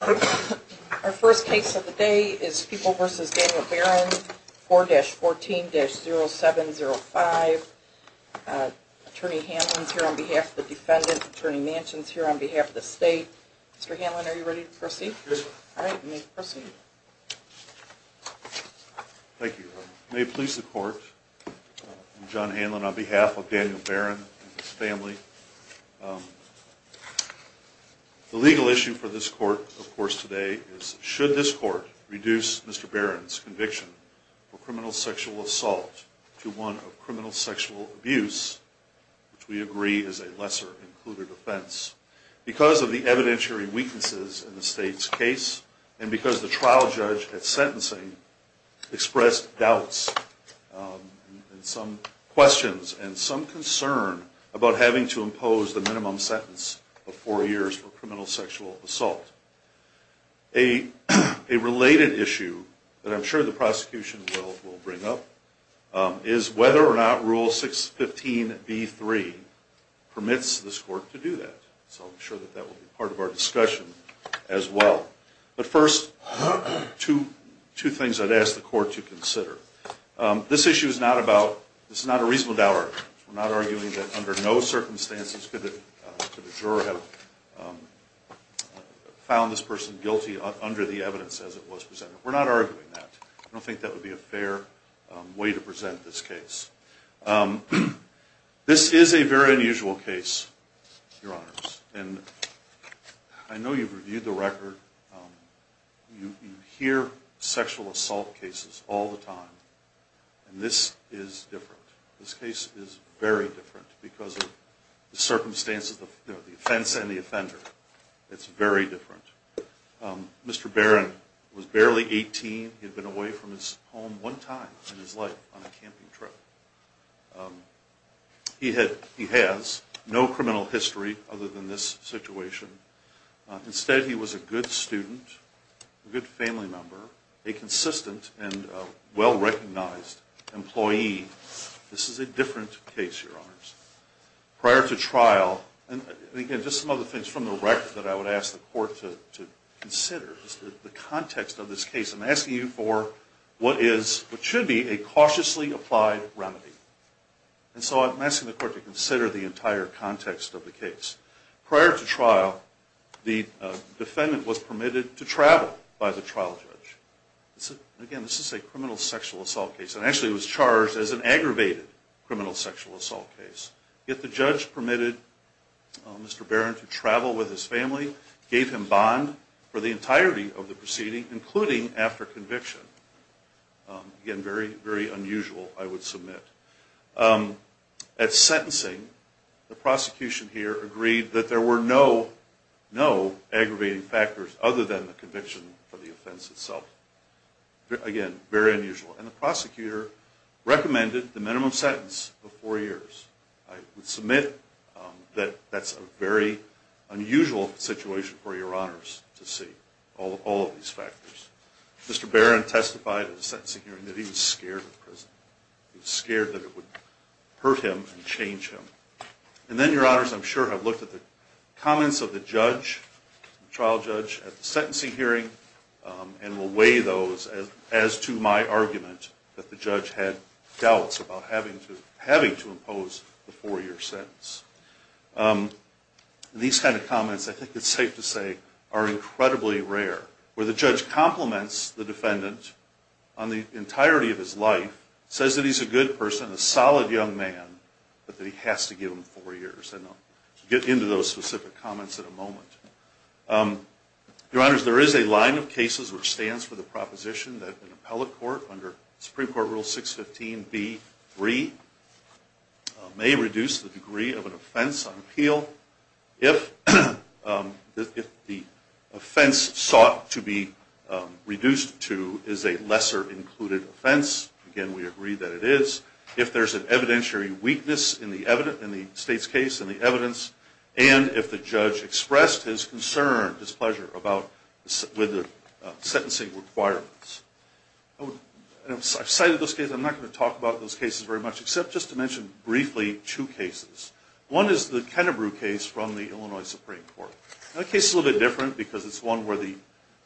Our first case of the day is People v. Daniel Barron, 4-14-0705. Attorney Hanlon is here on behalf of the defendant. Attorney Manchin is here on behalf of the state. Mr. Hanlon, are you ready to proceed? Yes, ma'am. All right, you may proceed. Thank you. May it please the court, I'm John Hanlon on behalf of Daniel Barron and his family. The legal issue for this court, of course, today is should this court reduce Mr. Barron's conviction for criminal sexual assault to one of criminal sexual abuse, which we agree is a lesser included offense, because of the evidentiary weaknesses in the state's case and because the trial judge at sentencing expressed doubts and some questions and some concern about having to impose the minimum sentence of four years for criminal sexual assault. A related issue that I'm sure the prosecution will bring up is whether or not Rule 615b-3 permits this court to do that. So I'm sure that will be part of our discussion as well. But first, two things I'd ask the court to consider. This issue is not a reasonable doubt argument. We're not arguing that under no circumstances could the juror have found this person guilty under the evidence as it was presented. We're not arguing that. I don't think that would be a fair way to present this case. This is a very unusual case, Your Honors, and I know you've reviewed the record. You hear sexual assault cases all the time, and this is different. This case is very different because of the circumstances of the offense and the offender. It's very different. Mr. Barron was barely 18. He had been away from his home one time in his life on a camping trip. He has no criminal history other than this situation. Instead, he was a good student, a good family member, a consistent and well-recognized employee. This is a different case, Your Honors. Prior to trial, and again, just some other things from the record that I would ask the court to consider is the context of this case. I'm asking you for what should be a cautiously applied remedy. And so I'm asking the court to consider the entire context of the case. Prior to trial, the defendant was permitted to travel by the trial judge. Again, this is a criminal sexual assault case, and actually it was charged as an aggravated criminal sexual assault case. Yet the judge permitted Mr. Barron to travel with his family, gave him bond for the entirety of the proceeding, including after conviction. Again, very, very unusual, I would submit. At sentencing, the prosecution here agreed that there were no aggravating factors other than the conviction for the offense itself. Again, very unusual. And the prosecutor recommended the minimum sentence of four years. I would submit that that's a very unusual situation for Your Honors to see, all of these factors. Mr. Barron testified at the sentencing hearing that he was scared of prison. He was scared that it would hurt him and change him. And then, Your Honors, I'm sure have looked at the comments of the judge, the trial judge, at the sentencing hearing and will weigh those as to my argument that the judge had doubts about having to impose the four-year sentence. These kind of comments, I think it's safe to say, are incredibly rare, where the judge compliments the defendant on the entirety of his life, says that he's a good person, a solid young man, but that he has to give him four years. And I'll get into those specific comments in a moment. Your Honors, there is a line of cases where it stands for the proposition that an appellate court, under Supreme Court Rule 615B3, may reduce the degree of an offense on appeal if the offense sought to be reduced to is a lesser-included offense. Again, we agree that it is. I've cited those cases. I'm not going to talk about those cases very much, except just to mention briefly two cases. One is the Kennebrew case from the Illinois Supreme Court. That case is a little bit different because it's one where the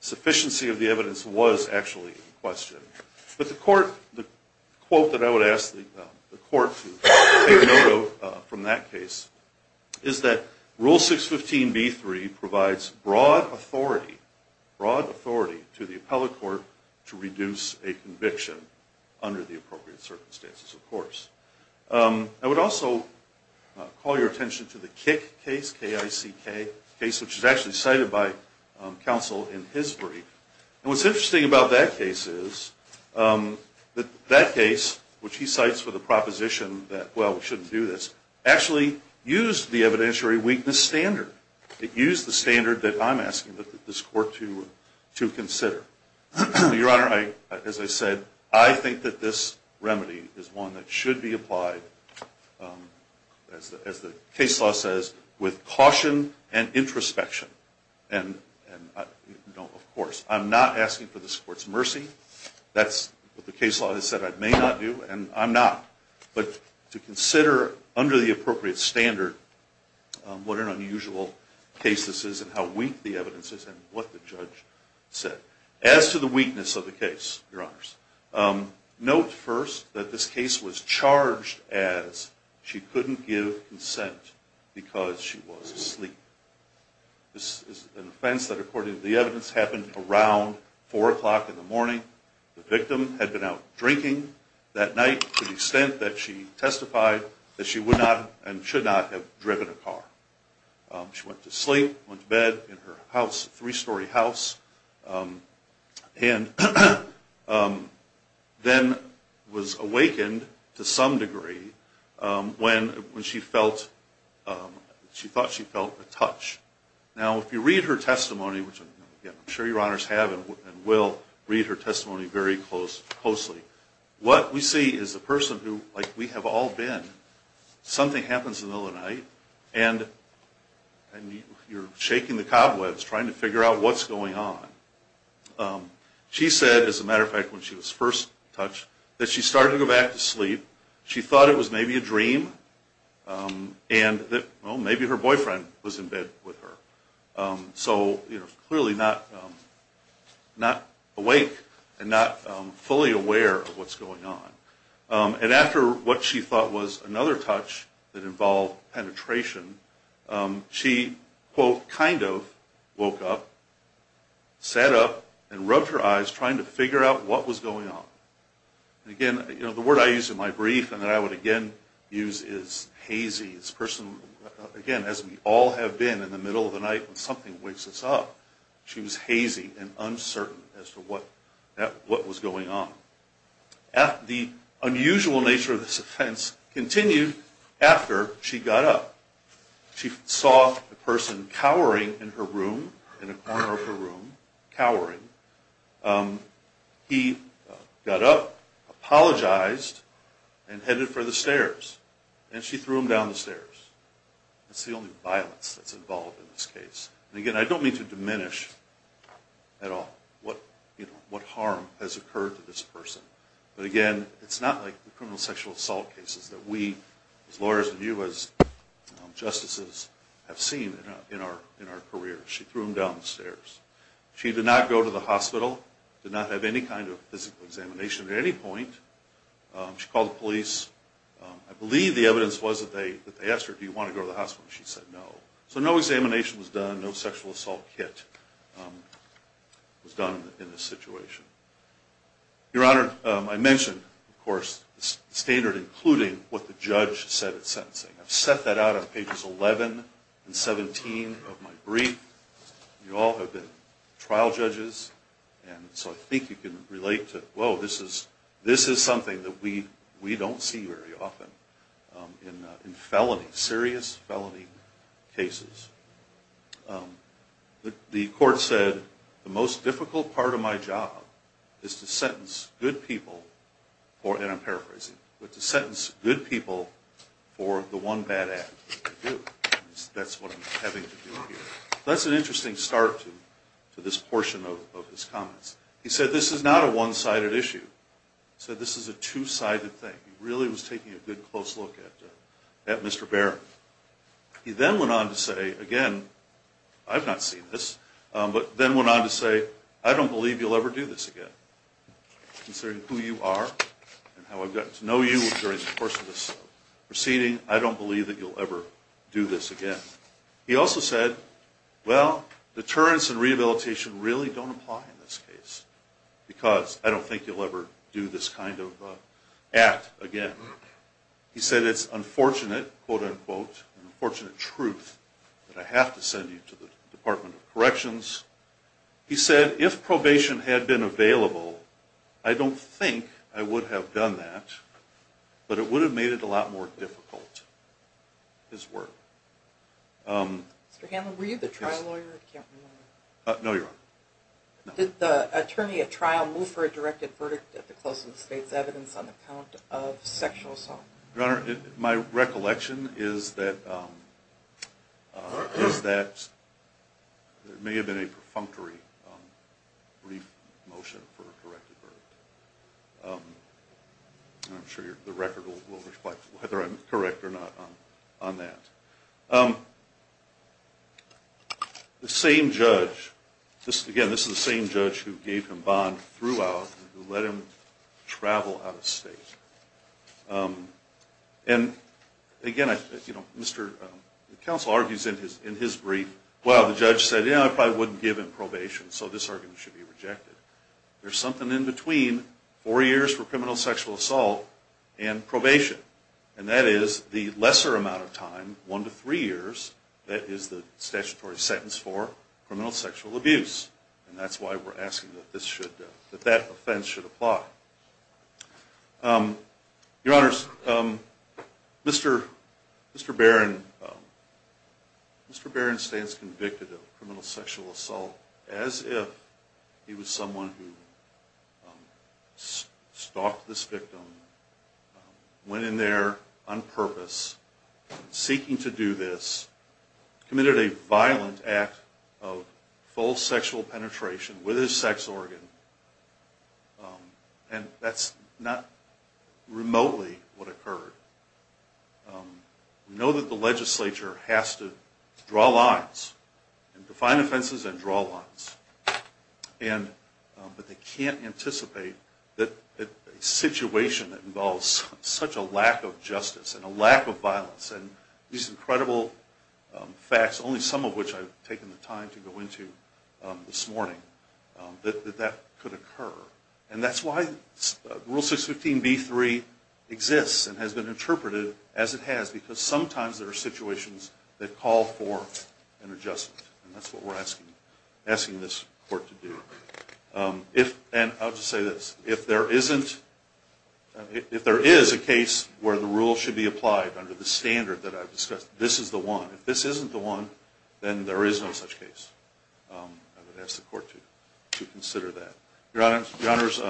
sufficiency of the evidence was actually in question. But the quote that I would ask the court to take note of from that case is that Rule 615B3 provides broad authority to the appellate court to reduce a conviction under the appropriate circumstances, of course. I would also call your attention to the Kick case, K-I-C-K, a case which is actually cited by counsel in his brief. And what's interesting about that case is that that case, which he cites for the proposition that, well, we shouldn't do this, actually used the evidentiary weakness standard. It used the standard that I'm asking this court to consider. Your Honor, as I said, I think that this remedy is one that should be applied, as the case law says, with caution and introspection. And, of course, I'm not asking for this court's mercy. That's what the case law has said I may not do, and I'm not. But to consider under the appropriate standard what an unusual case this is and how weak the evidence is and what the judge said. As to the weakness of the case, Your Honors, note first that this case was charged as she couldn't give consent because she was asleep. This is an offense that, according to the evidence, happened around 4 o'clock in the morning. The victim had been out drinking that night to the extent that she testified that she would not and should not have driven a car. She went to sleep, went to bed in her house, three-story house, and then was awakened to some degree when she felt, she thought she felt a touch. Now, if you read her testimony, which I'm sure Your Honors have and will read her testimony very closely, what we see is a person who, like we have all been, something happens in the middle of the night. And you're shaking the cobwebs trying to figure out what's going on. She said, as a matter of fact, when she was first touched, that she started to go back to sleep. She thought it was maybe a dream and that, well, maybe her boyfriend was in bed with her. So, you know, clearly not awake and not fully aware of what's going on. And after what she thought was another touch that involved penetration, she, quote, kind of woke up, sat up, and rubbed her eyes trying to figure out what was going on. Again, you know, the word I use in my brief and that I would again use is hazy. This person, again, as we all have been in the middle of the night when something wakes us up, she was hazy and uncertain as to what was going on. Unusual nature of this offense continued after she got up. She saw a person cowering in her room, in a corner of her room, cowering. He got up, apologized, and headed for the stairs. And she threw him down the stairs. That's the only violence that's involved in this case. And again, I don't mean to diminish at all what harm has occurred to this person. But again, it's not like the criminal sexual assault cases that we as lawyers and you as justices have seen in our careers. She threw him down the stairs. She did not go to the hospital, did not have any kind of physical examination at any point. She called the police. I believe the evidence was that they asked her, do you want to go to the hospital? She said no. So no examination was done, no sexual assault kit was done in this situation. Your Honor, I mentioned, of course, the standard including what the judge said at sentencing. I've set that out on pages 11 and 17 of my brief. You all have been trial judges, and so I think you can relate to, whoa, this is something that we don't see very often in felony, serious felony cases. The court said, the most difficult part of my job is to sentence good people for, and I'm paraphrasing, but to sentence good people for the one bad act that they do. That's what I'm having to do here. That's an interesting start to this portion of his comments. He said this is not a one-sided issue. He said this is a two-sided thing. He really was taking a good close look at Mr. Barron. He then went on to say, again, I've not seen this, but then went on to say, I don't believe you'll ever do this again. Considering who you are and how I've gotten to know you during the course of this proceeding, I don't believe that you'll ever do this again. He also said, well, deterrence and rehabilitation really don't apply in this case, because I don't think you'll ever do this kind of act again. He said it's unfortunate, quote-unquote, unfortunate truth that I have to send you to the Department of Corrections. He said if probation had been available, I don't think I would have done that, but it would have made it a lot more difficult, his word. Mr. Hanlon, were you the trial lawyer? No, Your Honor. Did the attorney at trial move for a directed verdict at the close of the state's evidence on the count of sexual assault? Your Honor, my recollection is that there may have been a perfunctory brief motion for a corrected verdict. I'm sure the record will reflect whether I'm correct or not on that. The same judge, again, this is the same judge who gave him bond throughout and who let him travel out of state. And again, the counsel argues in his brief, well, the judge said, yeah, I probably wouldn't give him probation, so this argument should be rejected. There's something in between four years for criminal sexual assault and probation. And that is the lesser amount of time, one to three years, that is the statutory sentence for criminal sexual abuse. And that's why we're asking that that offense should apply. Your Honors, Mr. Barron stands convicted of criminal sexual assault as if he was someone who stalked this victim, went in there on purpose, seeking to do this, committed a violent act of false sexual penetration with his sex organ, and that's not remotely what occurred. We know that the legislature has to draw lines and define offenses and draw lines, but they can't anticipate that a situation that involves such a lack of justice and a lack of violence and these incredible facts, only some of which I've taken the time to go into this morning, that that could occur. And that's why Rule 615B3 exists and has been interpreted as it has, because sometimes there are situations that call for an adjustment. And that's what we're asking this Court to do. And I'll just say this, if there is a case where the rule should be applied under the standard that I've discussed, this is the one. If this isn't the one, then there is no such case. I would ask the Court to consider that. Your Honors,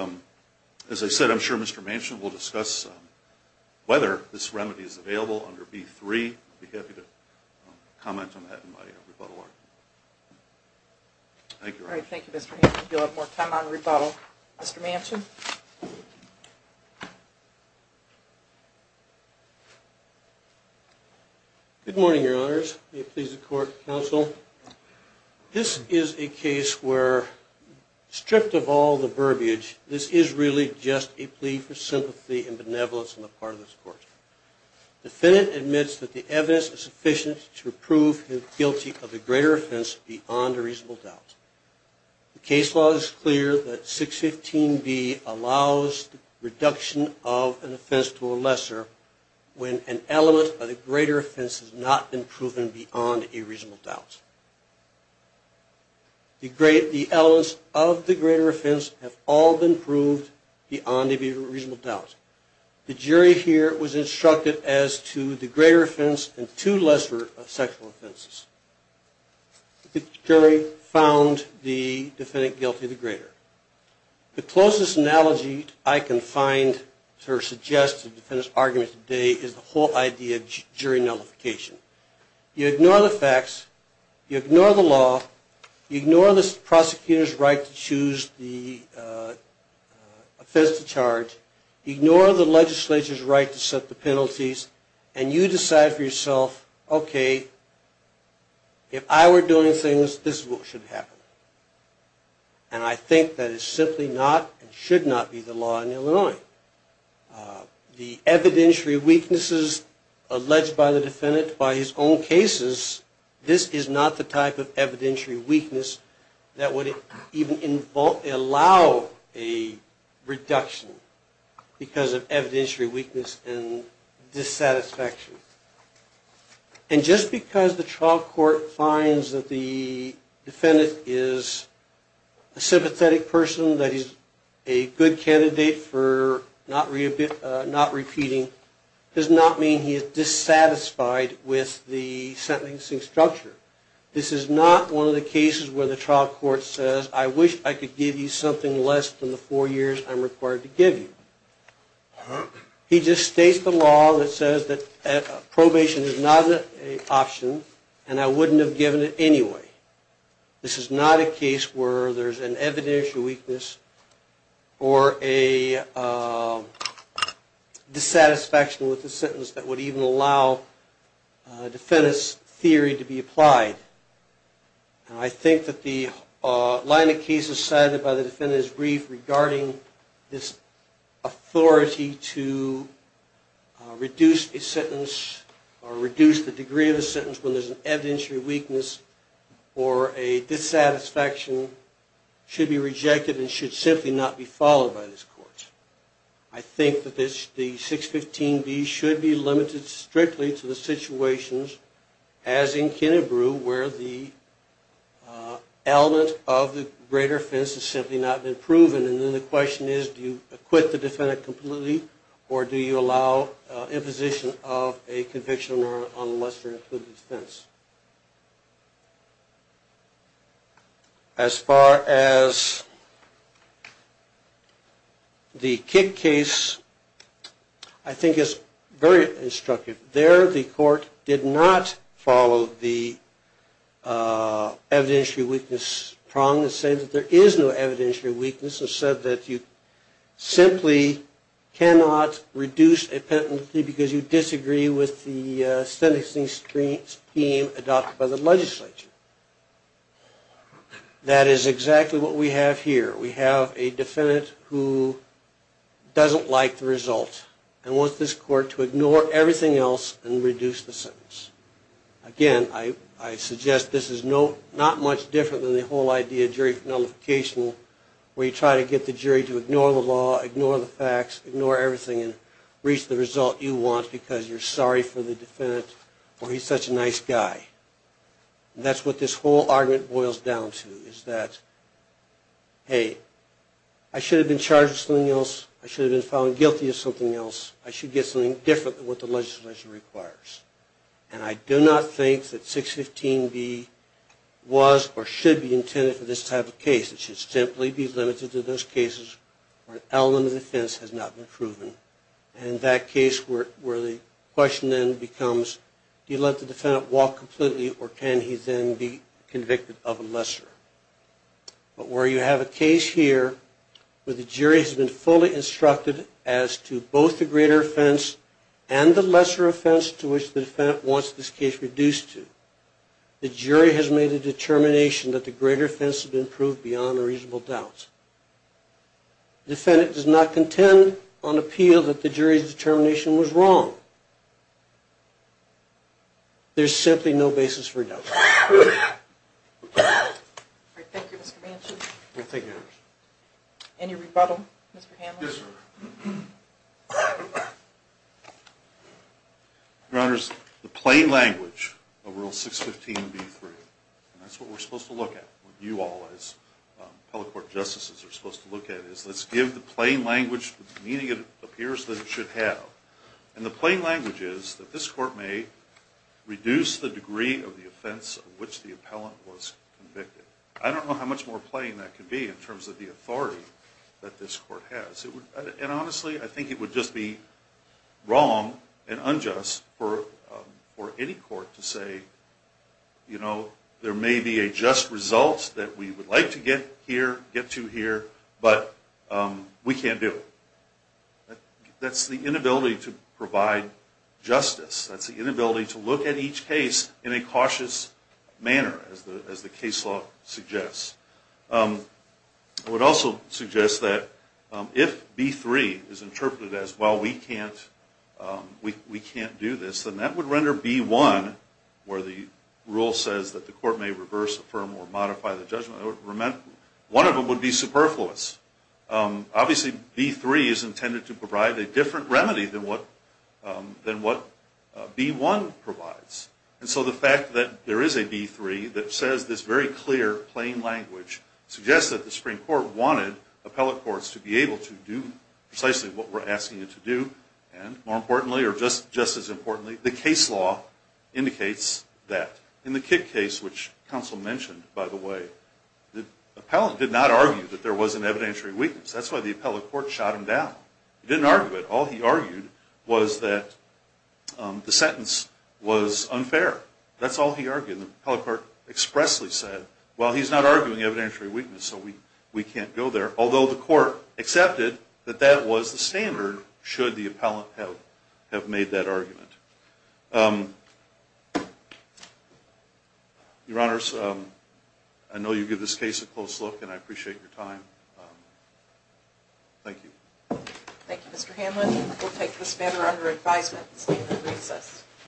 as I said, I'm sure Mr. Manchin will discuss whether this remedy is available under B3. I'd be happy to comment on that in my rebuttal argument. Thank you. All right. Thank you, Mr. Hampton. If you'll have more time on rebuttal, Mr. Manchin. Good morning, Your Honors. May it please the Court, Counsel. This is a case where, strict of all the verbiage, this is really just a plea for sympathy and benevolence on the part of this Court. The defendant admits that the evidence is sufficient to prove him guilty of a greater offense beyond a reasonable doubt. The case law is clear that 615B allows the reduction of an offense to a lesser when an element of the greater offense has not been proven beyond a reasonable doubt. The elements of the greater offense have all been proved beyond a reasonable doubt. The jury here was instructed as to the greater offense and two lesser sexual offenses. The jury found the defendant guilty of the greater. The closest analogy I can find to suggest the defendant's argument today is the whole idea of jury nullification. You ignore the facts, you ignore the law, you ignore the prosecutor's right to choose the offense to charge, you ignore the legislature's right to set the penalties, and you decide for yourself, okay, if I were doing things, this is what should happen. And I think that is simply not and should not be the law in Illinois. The evidentiary weaknesses alleged by the defendant by his own cases, this is not the type of evidentiary weakness that would even allow a reduction because of evidentiary weakness and dissatisfaction. And just because the trial court finds that the defendant is a sympathetic person, that he's a good candidate for not repeating, does not mean he is dissatisfied with the sentencing structure. This is not one of the cases where the trial court says, I wish I could give you something less than the four years I'm required to give you. He just states the law that says that probation is not an option and I wouldn't have given it anyway. This is not a case where there's an evidentiary weakness or a dissatisfaction with the sentence that would even allow a defendant's theory to be applied. And I think that the line of cases cited by the defendant is brief regarding this authority to reduce a sentence or reduce the degree of a sentence when there's an evidentiary weakness or a dissatisfaction should be rejected and should simply not be followed by this court. I think that the 615B should be limited strictly to the situations, as in Kennebrew, where the element of the greater offense has simply not been proven. And then the question is, do you acquit the defendant completely or do you allow imposition of a conviction on a lesser included offense? As far as the Kick case, I think it's very instructive. There, the court did not follow the evidentiary weakness prong and say that there is no evidentiary weakness and said that you simply cannot reduce a penalty because you disagree with the sentencing scheme adopted by the legislature. That is exactly what we have here. We have a defendant who doesn't like the result and wants this court to ignore everything else and reduce the sentence. Again, I suggest this is not much different than the whole idea of jury nullification, where you try to get the jury to ignore the law, ignore the facts, ignore everything and reach the result you want because you're sorry for the defendant or he's such a nice guy. That's what this whole argument boils down to, is that, hey, I should have been charged with something else, I should have been found guilty of something else, I should get something different than what the legislature requires. And I do not think that 615B was or should be intended for this type of case. It should simply be limited to those cases where an element of offense has not been proven. And that case where the question then becomes, do you let the defendant walk completely or can he then be convicted of a lesser? But where you have a case here where the jury has been fully instructed as to both the greater offense and the lesser offense to which the defendant wants this case reduced to, the jury has made a determination that the greater offense has been proved beyond a reasonable doubt. The defendant does not contend on appeal that the jury's determination was wrong. There's simply no basis for doubt. Thank you, Mr. Manchin. Any rebuttal, Mr. Hamlin? Yes, Your Honor. Your Honor, the plain language of Rule 615B3, and that's what we're supposed to look at, what you all as appellate court justices are supposed to look at, is let's give the plain language the meaning it appears that it should have. And the plain language is that this court may reduce the degree of the offense of which the appellant was convicted. I don't know how much more plain that could be in terms of the authority that this court has. And honestly, I think it would just be wrong and unjust for any court to say, you know, there may be a just result that we would like to get here, get to here, but we can't do it. That's the inability to provide justice. That's the inability to look at each case in a cautious manner, as the case law suggests. I would also suggest that if B3 is interpreted as, well, we can't do this, then that would render B1, where the rule says that the court may reverse, affirm, or modify the judgment, one of them would be superfluous. Obviously, B3 is intended to provide a different remedy than what B1 provides. And so the fact that there is a B3 that says this very clear plain language suggests that the Supreme Court wanted appellate courts to be able to do precisely what we're asking it to do. And more importantly, or just as importantly, the case law indicates that. In the Kidd case, which counsel mentioned, by the way, the appellant did not argue that there was an evidentiary weakness. That's why the appellate court shot him down. He didn't argue it. All he argued was that the sentence was unfair. That's all he argued. The appellate court expressly said, well, he's not arguing evidentiary weakness, so we can't go there, although the court accepted that that was the standard should the appellant have made that argument. Your Honors, I know you give this case a close look, and I appreciate your time. Thank you. Thank you, Mr. Hanlon. We'll take this matter under advisement and stand in recess.